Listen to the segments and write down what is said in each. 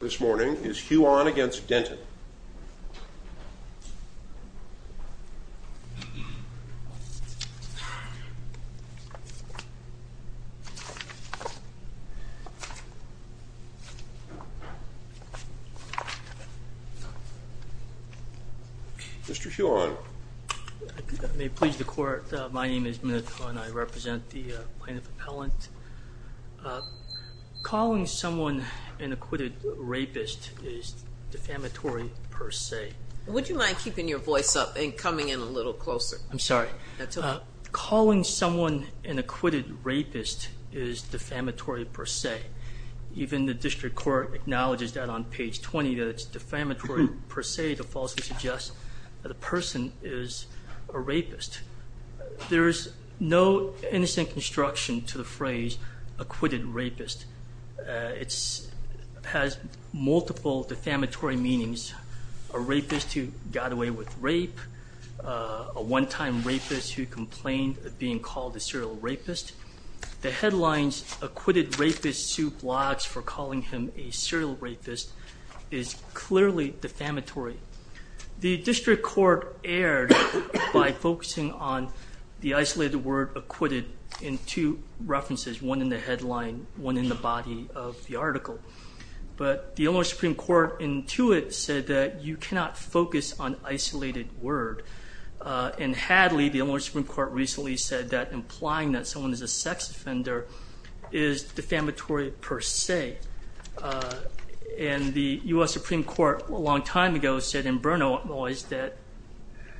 This morning is Huon v. Denton. Mr. Huon. I may please the court. My name is Minneth Huon. I represent the plaintiff appellant. Calling someone an acquitted rapist is defamatory per se. Would you mind keeping your voice up and coming in a little closer? I'm sorry. That's okay. Calling someone an acquitted rapist is defamatory per se. Even the district court acknowledges that on page 20 that it's defamatory per se to falsely suggest that a person is a rapist. There is no innocent construction to the phrase acquitted rapist. It has multiple defamatory meanings. A rapist who got away with rape, a one-time rapist who complained of being called a serial rapist. The headlines, acquitted rapist sued blocks for calling him a serial rapist, is clearly defamatory. The district court erred by focusing on the isolated word acquitted in two references. One in the headline, one in the body of the article. But the Illinois Supreme Court in two it said that you cannot focus on isolated word. In Hadley, the Illinois Supreme Court recently said that implying that someone is a sex offender is defamatory per se. And the U.S. Supreme Court a long time ago said in Bernoullis that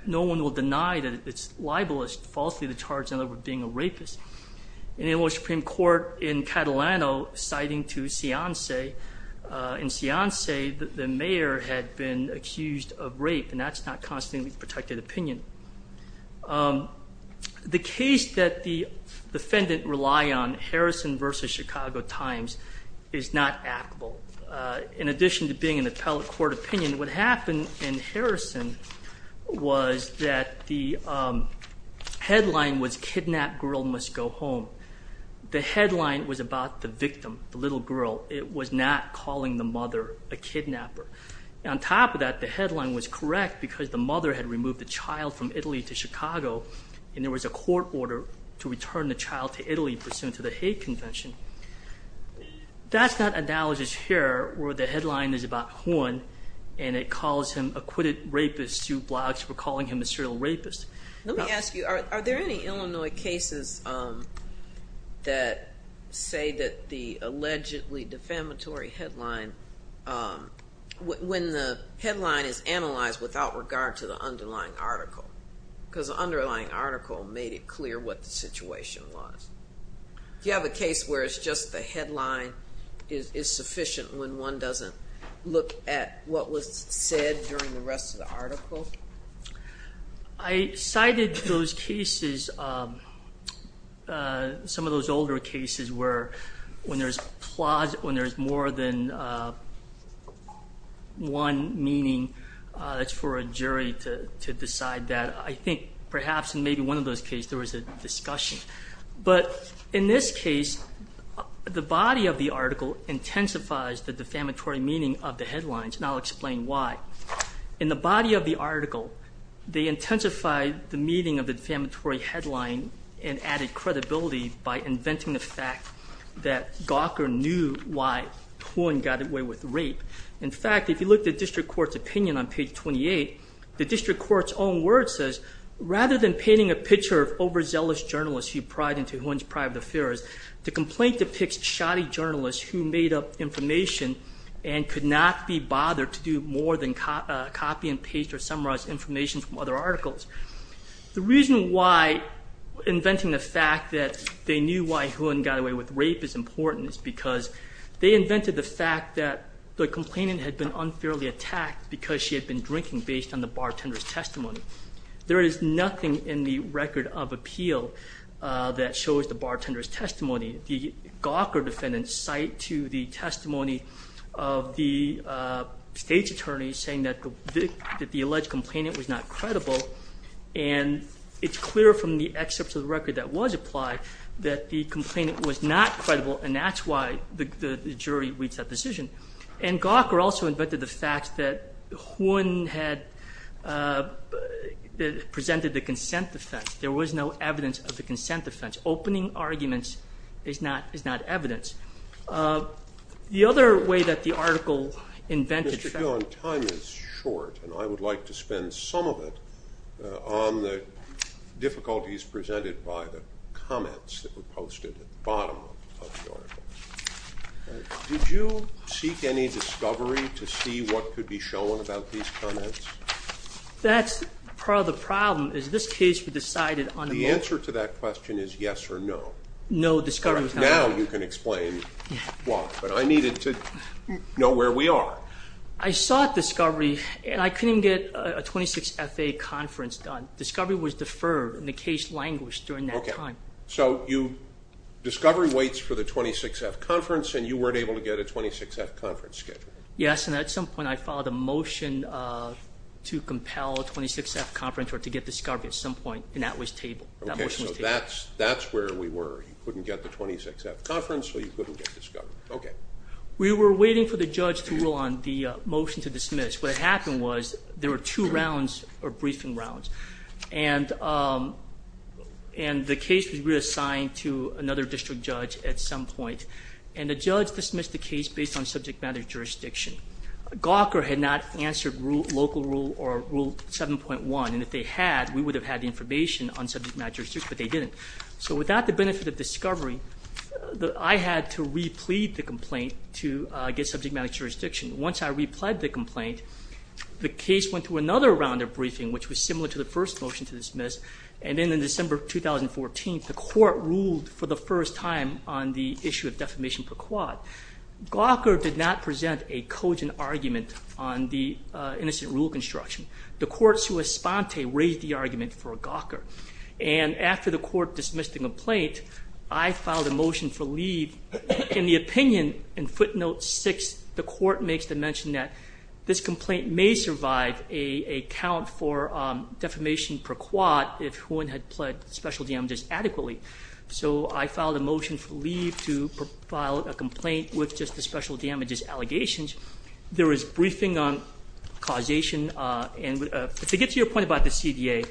no one will deny that it's libelous, falsely to charge another with being a rapist. And the Illinois Supreme Court in Catalano citing to Ciance, in Ciance the mayor had been accused of rape and that's not constantly protected opinion. The case that the defendant rely on, Harrison versus Chicago Times, is not actable. In addition to being an appellate court opinion, what happened in Harrison was that the headline was kidnapped girl must go home. The headline was about the victim, the little girl. It was not calling the mother a kidnapper. On top of that, the headline was correct because the mother had removed the child from Italy to Chicago. And there was a court order to return the child to Italy pursuant to the hate convention. That's not analogous here where the headline is about Juan and it calls him acquitted rapist. Two blogs were calling him a serial rapist. Let me ask you, are there any Illinois cases that say that the allegedly defamatory headline, when the headline is analyzed without regard to the underlying article? Because the underlying article made it clear what the situation was. Do you have a case where it's just the headline is sufficient when one doesn't look at what was said during the rest of the article? I cited those cases, some of those older cases where when there's more than one meaning, it's for a jury to decide that. I think perhaps in maybe one of those cases there was a discussion. But in this case, the body of the article intensifies the defamatory meaning of the headlines, and I'll explain why. In the body of the article, they intensified the meaning of the defamatory headline and added credibility by inventing the fact that Gawker knew why Juan got away with rape. In fact, if you look at district court's opinion on page 28, the district court's own word says, rather than painting a picture of overzealous journalists who pried into Juan's private affairs, the complaint depicts shoddy journalists who made up information and could not be bothered to do more than copy and paste or summarize information from other articles. The reason why inventing the fact that they knew why Juan got away with rape is important is because they invented the fact that the complainant had been unfairly attacked because she had been drinking based on the bartender's testimony. There is nothing in the record of appeal that shows the bartender's testimony. The Gawker defendants cite to the testimony of the state's attorneys saying that the alleged complainant was not credible. And it's clear from the excerpts of the record that was applied that the complainant was not credible, and that's why the jury reached that decision. And Gawker also invented the fact that Juan had presented the consent defense. There was no evidence of the consent defense. Opening arguments is not evidence. The other way that the article invented that— Mr. Fillon, time is short, and I would like to spend some of it on the difficulties presented by the comments that were posted at the bottom of the article. Did you seek any discovery to see what could be shown about these comments? That's part of the problem, is this case was decided on— The answer to that question is yes or no. No, discovery was not— Now you can explain why. But I needed to know where we are. I sought discovery, and I couldn't get a 26FA conference done. Discovery was deferred, and the case languished during that time. So discovery waits for the 26F conference, and you weren't able to get a 26F conference scheduled? Yes, and at some point I filed a motion to compel a 26F conference or to get discovery at some point, and that was tabled. Okay, so that's where we were. You couldn't get the 26F conference, so you couldn't get discovery. Okay. We were waiting for the judge to rule on the motion to dismiss. What happened was there were two rounds or briefing rounds, and the case was reassigned to another district judge at some point, and the judge dismissed the case based on subject matter jurisdiction. Gawker had not answered local rule or Rule 7.1, and if they had, we would have had the information on subject matter jurisdiction, but they didn't. So without the benefit of discovery, I had to replead the complaint to get subject matter jurisdiction. Once I replied to the complaint, the case went to another round of briefing, which was similar to the first motion to dismiss, and then in December 2014, the court ruled for the first time on the issue of defamation per quad. Gawker did not present a cogent argument on the innocent rule construction. The court, sua sponte, raised the argument for Gawker, and after the court dismissed the complaint, I filed a motion for leave. In the opinion in footnote 6, the court makes the mention that this complaint may survive a count for defamation per quad if one had pled special damages adequately. So I filed a motion for leave to file a complaint with just the special damages allegations. There was briefing on causation, and to get to your point about the CDA,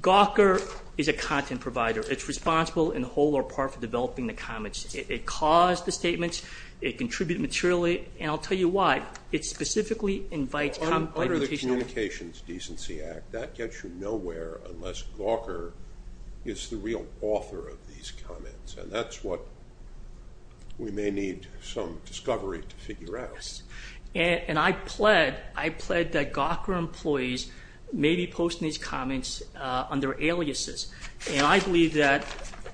Gawker is a content provider. It's responsible in whole or part for developing the comments. It caused the statements. It contributed materially, and I'll tell you why. It specifically invites comment by the case owner. Under the Communications Decency Act, that gets you nowhere unless Gawker is the real author of these comments, and that's what we may need some discovery to figure out. And I pled that Gawker employees may be posting these comments under aliases, and I believe that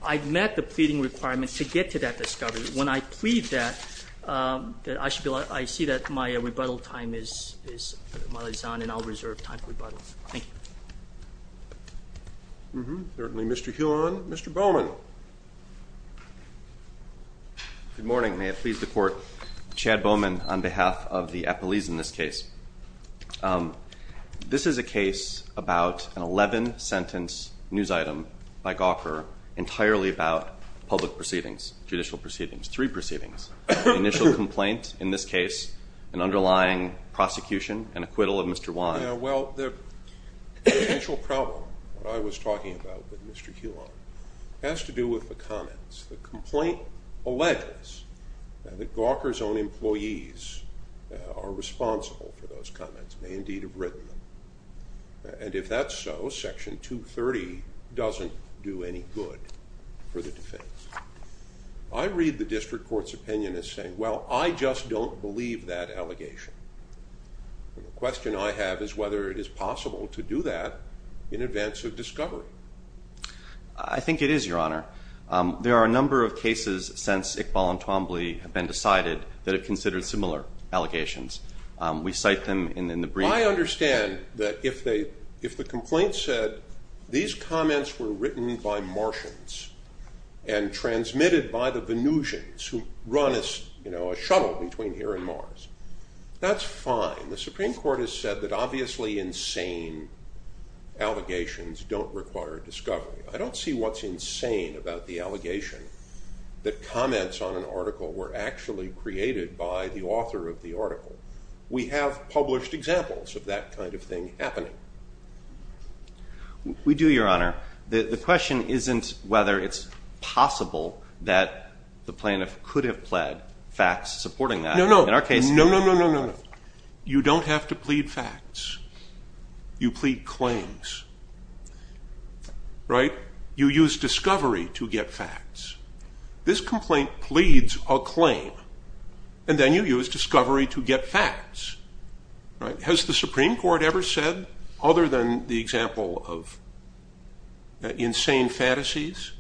I've met the pleading requirement to get to that discovery. When I plead that, I see that my rebuttal time is on, and I'll reserve time for rebuttal. Thank you. Certainly, Mr. Huon. Mr. Bowman. Good morning. May it please the court. Chad Bowman on behalf of the appellees in this case. This is a case about an 11-sentence news item by Gawker entirely about public proceedings, judicial proceedings, three proceedings, initial complaint in this case, an underlying prosecution, and acquittal of Mr. Huon. Yeah, well, the initial problem I was talking about with Mr. Huon has to do with the comments. The complaint alleges that Gawker's own employees are responsible for those comments, may indeed have written them. And if that's so, Section 230 doesn't do any good for the defense. I read the district court's opinion as saying, well, I just don't believe that allegation. The question I have is whether it is possible to do that in advance of discovery. I think it is, Your Honor. There are a number of cases since Iqbal and Twombly have been decided that have considered similar allegations. We cite them in the brief. I understand that if the complaint said these comments were written by Martians and transmitted by the Venusians, who run a shuttle between here and Mars, that's fine. The Supreme Court has said that obviously insane allegations don't require discovery. I don't see what's insane about the allegation that comments on an article were actually created by the author of the article. We have published examples of that kind of thing happening. We do, Your Honor. The question isn't whether it's possible that the plaintiff could have pled facts supporting that. No, no, no, no, no, no, no. You don't have to plead facts. You plead claims. Right? You use discovery to get facts. This complaint pleads a claim, and then you use discovery to get facts. Has the Supreme Court ever said, other than the example of insane fantasies,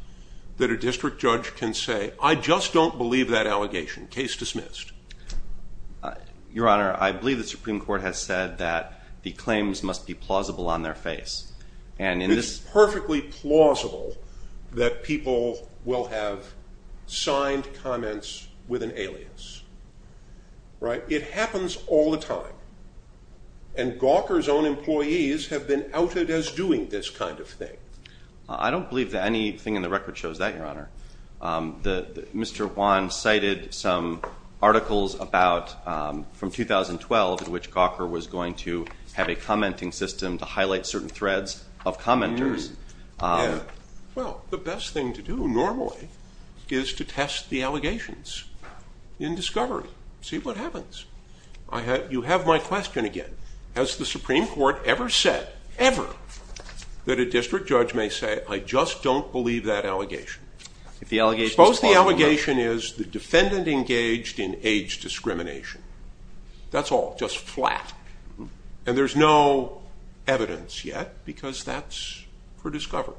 that a district judge can say, I just don't believe that allegation. Case dismissed. Your Honor, I believe the Supreme Court has said that the claims must be plausible on their face. It's perfectly plausible that people will have signed comments with an alias. Right? It happens all the time. And Gawker's own employees have been outed as doing this kind of thing. I don't believe that anything in the record shows that, Your Honor. Mr. Juan cited some articles about, from 2012, in which Gawker was going to have a commenting system to highlight certain threads of commenters. Well, the best thing to do normally is to test the allegations in discovery, see what happens. You have my question again. Has the Supreme Court ever said, ever, that a district judge may say, I just don't believe that allegation. Suppose the allegation is the defendant engaged in age discrimination. That's all, just flat. And there's no evidence yet, because that's for discovery.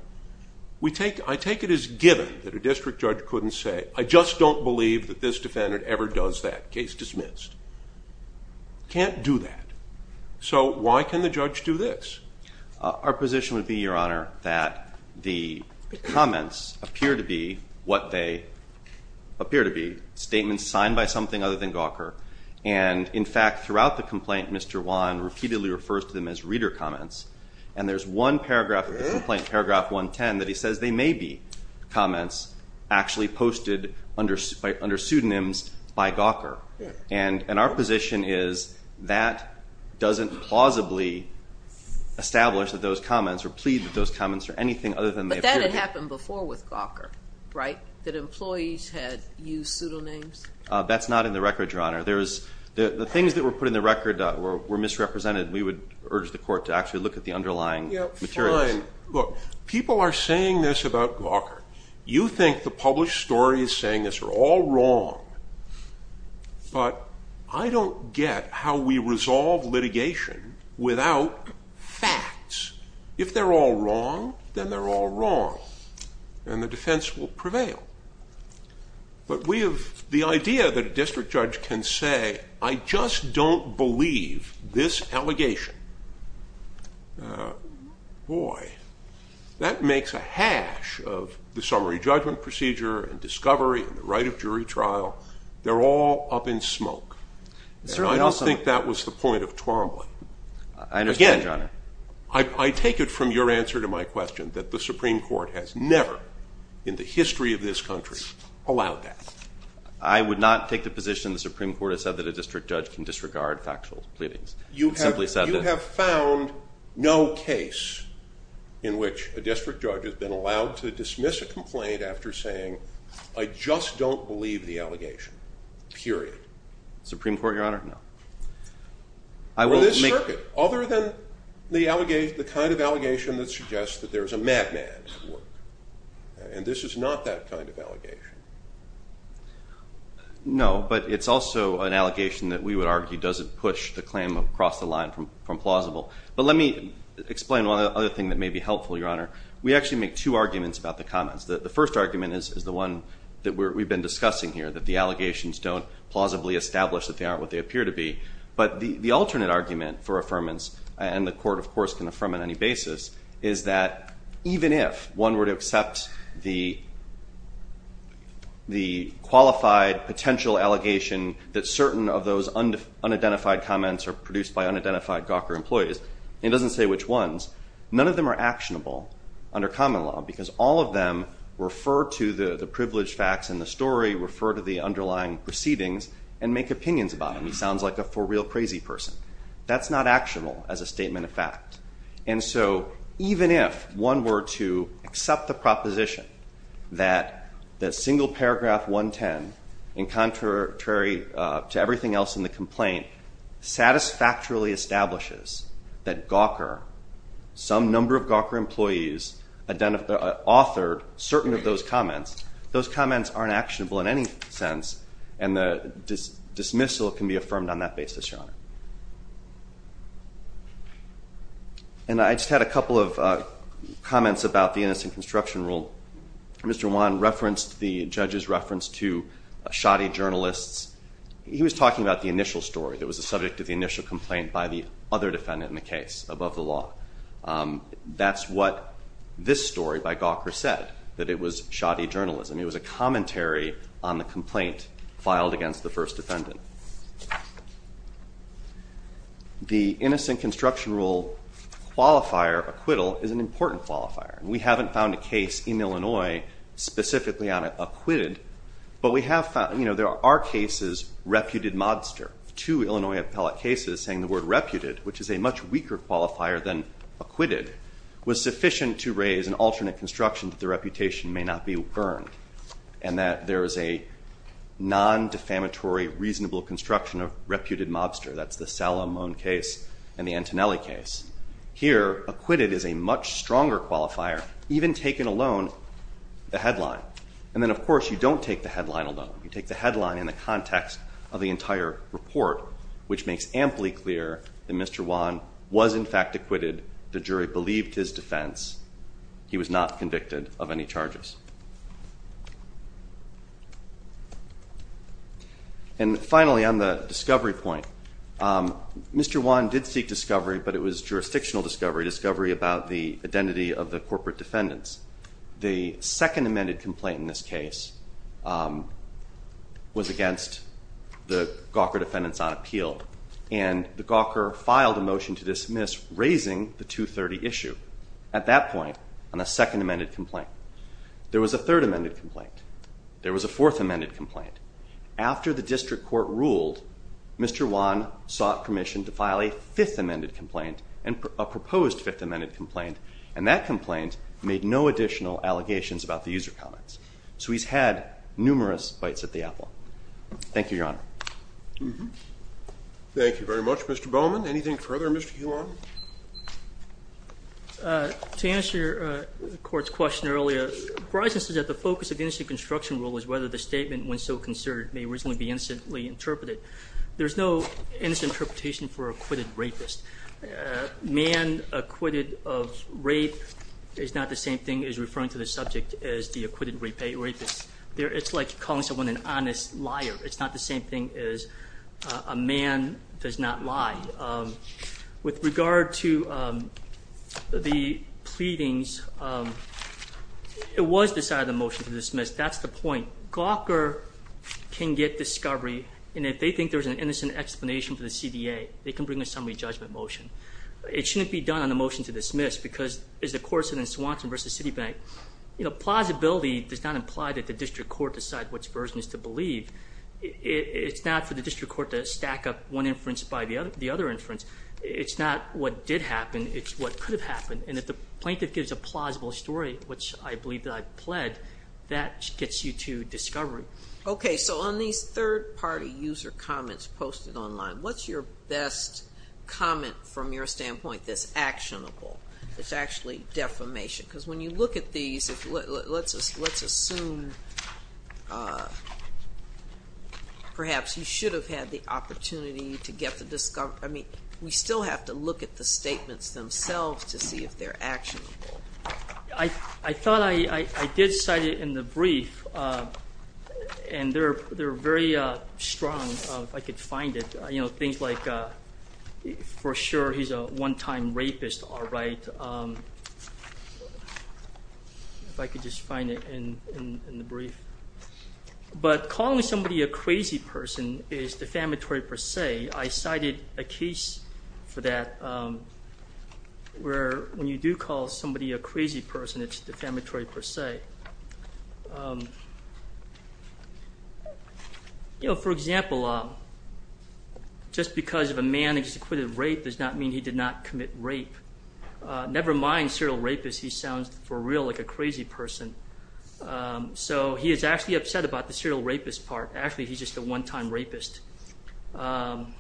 I take it as given that a district judge couldn't say, I just don't believe that this defendant ever does that. Case dismissed. Can't do that. So why can the judge do this? Our position would be, Your Honor, that the comments appear to be what they appear to be, statements signed by something other than Gawker. And, in fact, throughout the complaint, Mr. Juan repeatedly refers to them as reader comments. And there's one paragraph of the complaint, paragraph 110, that he says they may be comments actually posted under pseudonyms by Gawker. And our position is that doesn't plausibly establish that those comments or plead that those comments are anything other than they appear to be. But that had happened before with Gawker, right, that employees had used pseudonyms? That's not in the record, Your Honor. The things that were put in the record were misrepresented. We would urge the court to actually look at the underlying materials. Fine. Look, people are saying this about Gawker. You think the published story is saying this. We're all wrong. But I don't get how we resolve litigation without facts. If they're all wrong, then they're all wrong, and the defense will prevail. But we have the idea that a district judge can say, I just don't believe this allegation. Boy, that makes a hash of the summary judgment procedure and discovery and the right of jury trial. They're all up in smoke. And I don't think that was the point of Twombly. I understand, Your Honor. Again, I take it from your answer to my question that the Supreme Court has never in the history of this country allowed that. I would not take the position the Supreme Court has said that a district judge can disregard factual pleadings. You have found no case in which a district judge has been allowed to dismiss a complaint after saying, I just don't believe the allegation, period. Supreme Court, Your Honor, no. Well, this circuit, other than the kind of allegation that suggests that there's a madman at work. And this is not that kind of allegation. No, but it's also an allegation that we would argue doesn't push the claim across the line from plausible. But let me explain one other thing that may be helpful, Your Honor. We actually make two arguments about the comments. The first argument is the one that we've been discussing here, that the allegations don't plausibly establish that they aren't what they appear to be. But the alternate argument for affirmance, and the court, of course, can affirm on any basis, is that even if one were to accept the qualified potential allegation that certain of those unidentified comments are produced by unidentified Gawker employees, it doesn't say which ones. None of them are actionable under common law because all of them refer to the privileged facts in the story, refer to the underlying proceedings, and make opinions about them. He sounds like a for real crazy person. That's not actionable as a statement of fact. And so even if one were to accept the proposition that the single paragraph 110, in contrary to everything else in the complaint, satisfactorily establishes that Gawker, some number of Gawker employees authored certain of those comments, those comments aren't actionable in any sense, and the dismissal can be affirmed on that basis, Your Honor. And I just had a couple of comments about the innocent construction rule. Mr. Wan referenced the judge's reference to shoddy journalists. He was talking about the initial story that was the subject of the initial complaint by the other defendant in the case above the law. That's what this story by Gawker said, that it was shoddy journalism. It was a commentary on the complaint filed against the first defendant. The innocent construction rule qualifier, acquittal, is an important qualifier. We haven't found a case in Illinois specifically on acquitted, but we have found, you know, there are cases reputed modster. Two Illinois appellate cases saying the word reputed, which is a much weaker qualifier than acquitted, was sufficient to raise an alternate construction that the reputation may not be earned, and that there is a non-defamatory reasonable construction of reputed mobster. That's the Salamone case and the Antonelli case. Here, acquitted is a much stronger qualifier, even taking alone the headline. And then, of course, you don't take the headline alone. You take the headline in the context of the entire report, which makes amply clear that Mr. Wan was, in fact, acquitted. The jury believed his defense. He was not convicted of any charges. And finally, on the discovery point, Mr. Wan did seek discovery, but it was jurisdictional discovery, discovery about the identity of the corporate defendants. The second amended complaint in this case was against the Gawker defendants on appeal, and the Gawker filed a motion to dismiss, raising the 230 issue. At that point, on the second amended complaint, there was a third amended complaint. There was a fourth amended complaint. After the district court ruled, Mr. Wan sought permission to file a fifth amended complaint, and a proposed fifth amended complaint. And that complaint made no additional allegations about the user comments. So he's had numerous bites at the apple. Thank you, Your Honor. Thank you very much. Mr. Bowman, anything further? Mr. Huon? To answer the court's question earlier, Bryson said that the focus of the industry construction rule is whether the statement, when so concerned, may reasonably be instantly interpreted. There's no instant interpretation for acquitted rapist. Man acquitted of rape is not the same thing as referring to the subject as the acquitted rapist. It's like calling someone an honest liar. It's not the same thing as a man does not lie. With regard to the pleadings, it was the side of the motion to dismiss. That's the point. Gawker can get discovery, and if they think there's an innocent explanation for the CDA, they can bring a summary judgment motion. It shouldn't be done on the motion to dismiss because, as the court said in Swanson v. Citibank, plausibility does not imply that the district court decide which version is to believe. It's not for the district court to stack up one inference by the other inference. It's not what did happen. It's what could have happened. And if the plaintiff gives a plausible story, which I believe that I've pled, that gets you to discovery. Okay, so on these third-party user comments posted online, what's your best comment from your standpoint that's actionable, that's actually defamation? Because when you look at these, let's assume perhaps you should have had the opportunity to get the discovery. I mean, we still have to look at the statements themselves to see if they're actionable. I thought I did cite it in the brief, and they're very strong, if I could find it. You know, things like, for sure, he's a one-time rapist, all right, if I could just find it in the brief. But calling somebody a crazy person is defamatory per se. I cited a case for that where when you do call somebody a crazy person, it's defamatory per se. You know, for example, just because if a man executed rape does not mean he did not commit rape. Never mind serial rapist. He sounds, for real, like a crazy person. So he is actually upset about the serial rapist part. Actually, he's just a one-time rapist. Pardon,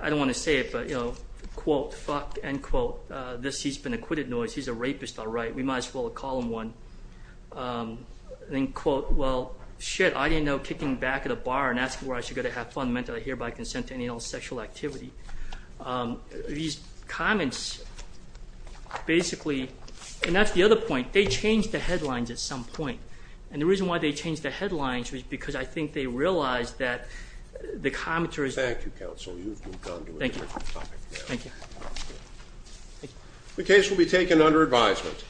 I don't want to say it, but, you know, quote, fuck, end quote, this, he's been acquitted, no, he's a rapist, all right, we might as well call him one. Then quote, well, shit, I didn't know kicking back at a bar and asking where I should go to have fun meant that I hereby consent to any and all sexual activity. These comments basically, and that's the other point, they change the headlines at some point. And the reason why they changed the headlines was because I think they realized that the commenters... Thank you, counsel, you've moved on to a different topic now. Thank you. The case will be taken under advisement.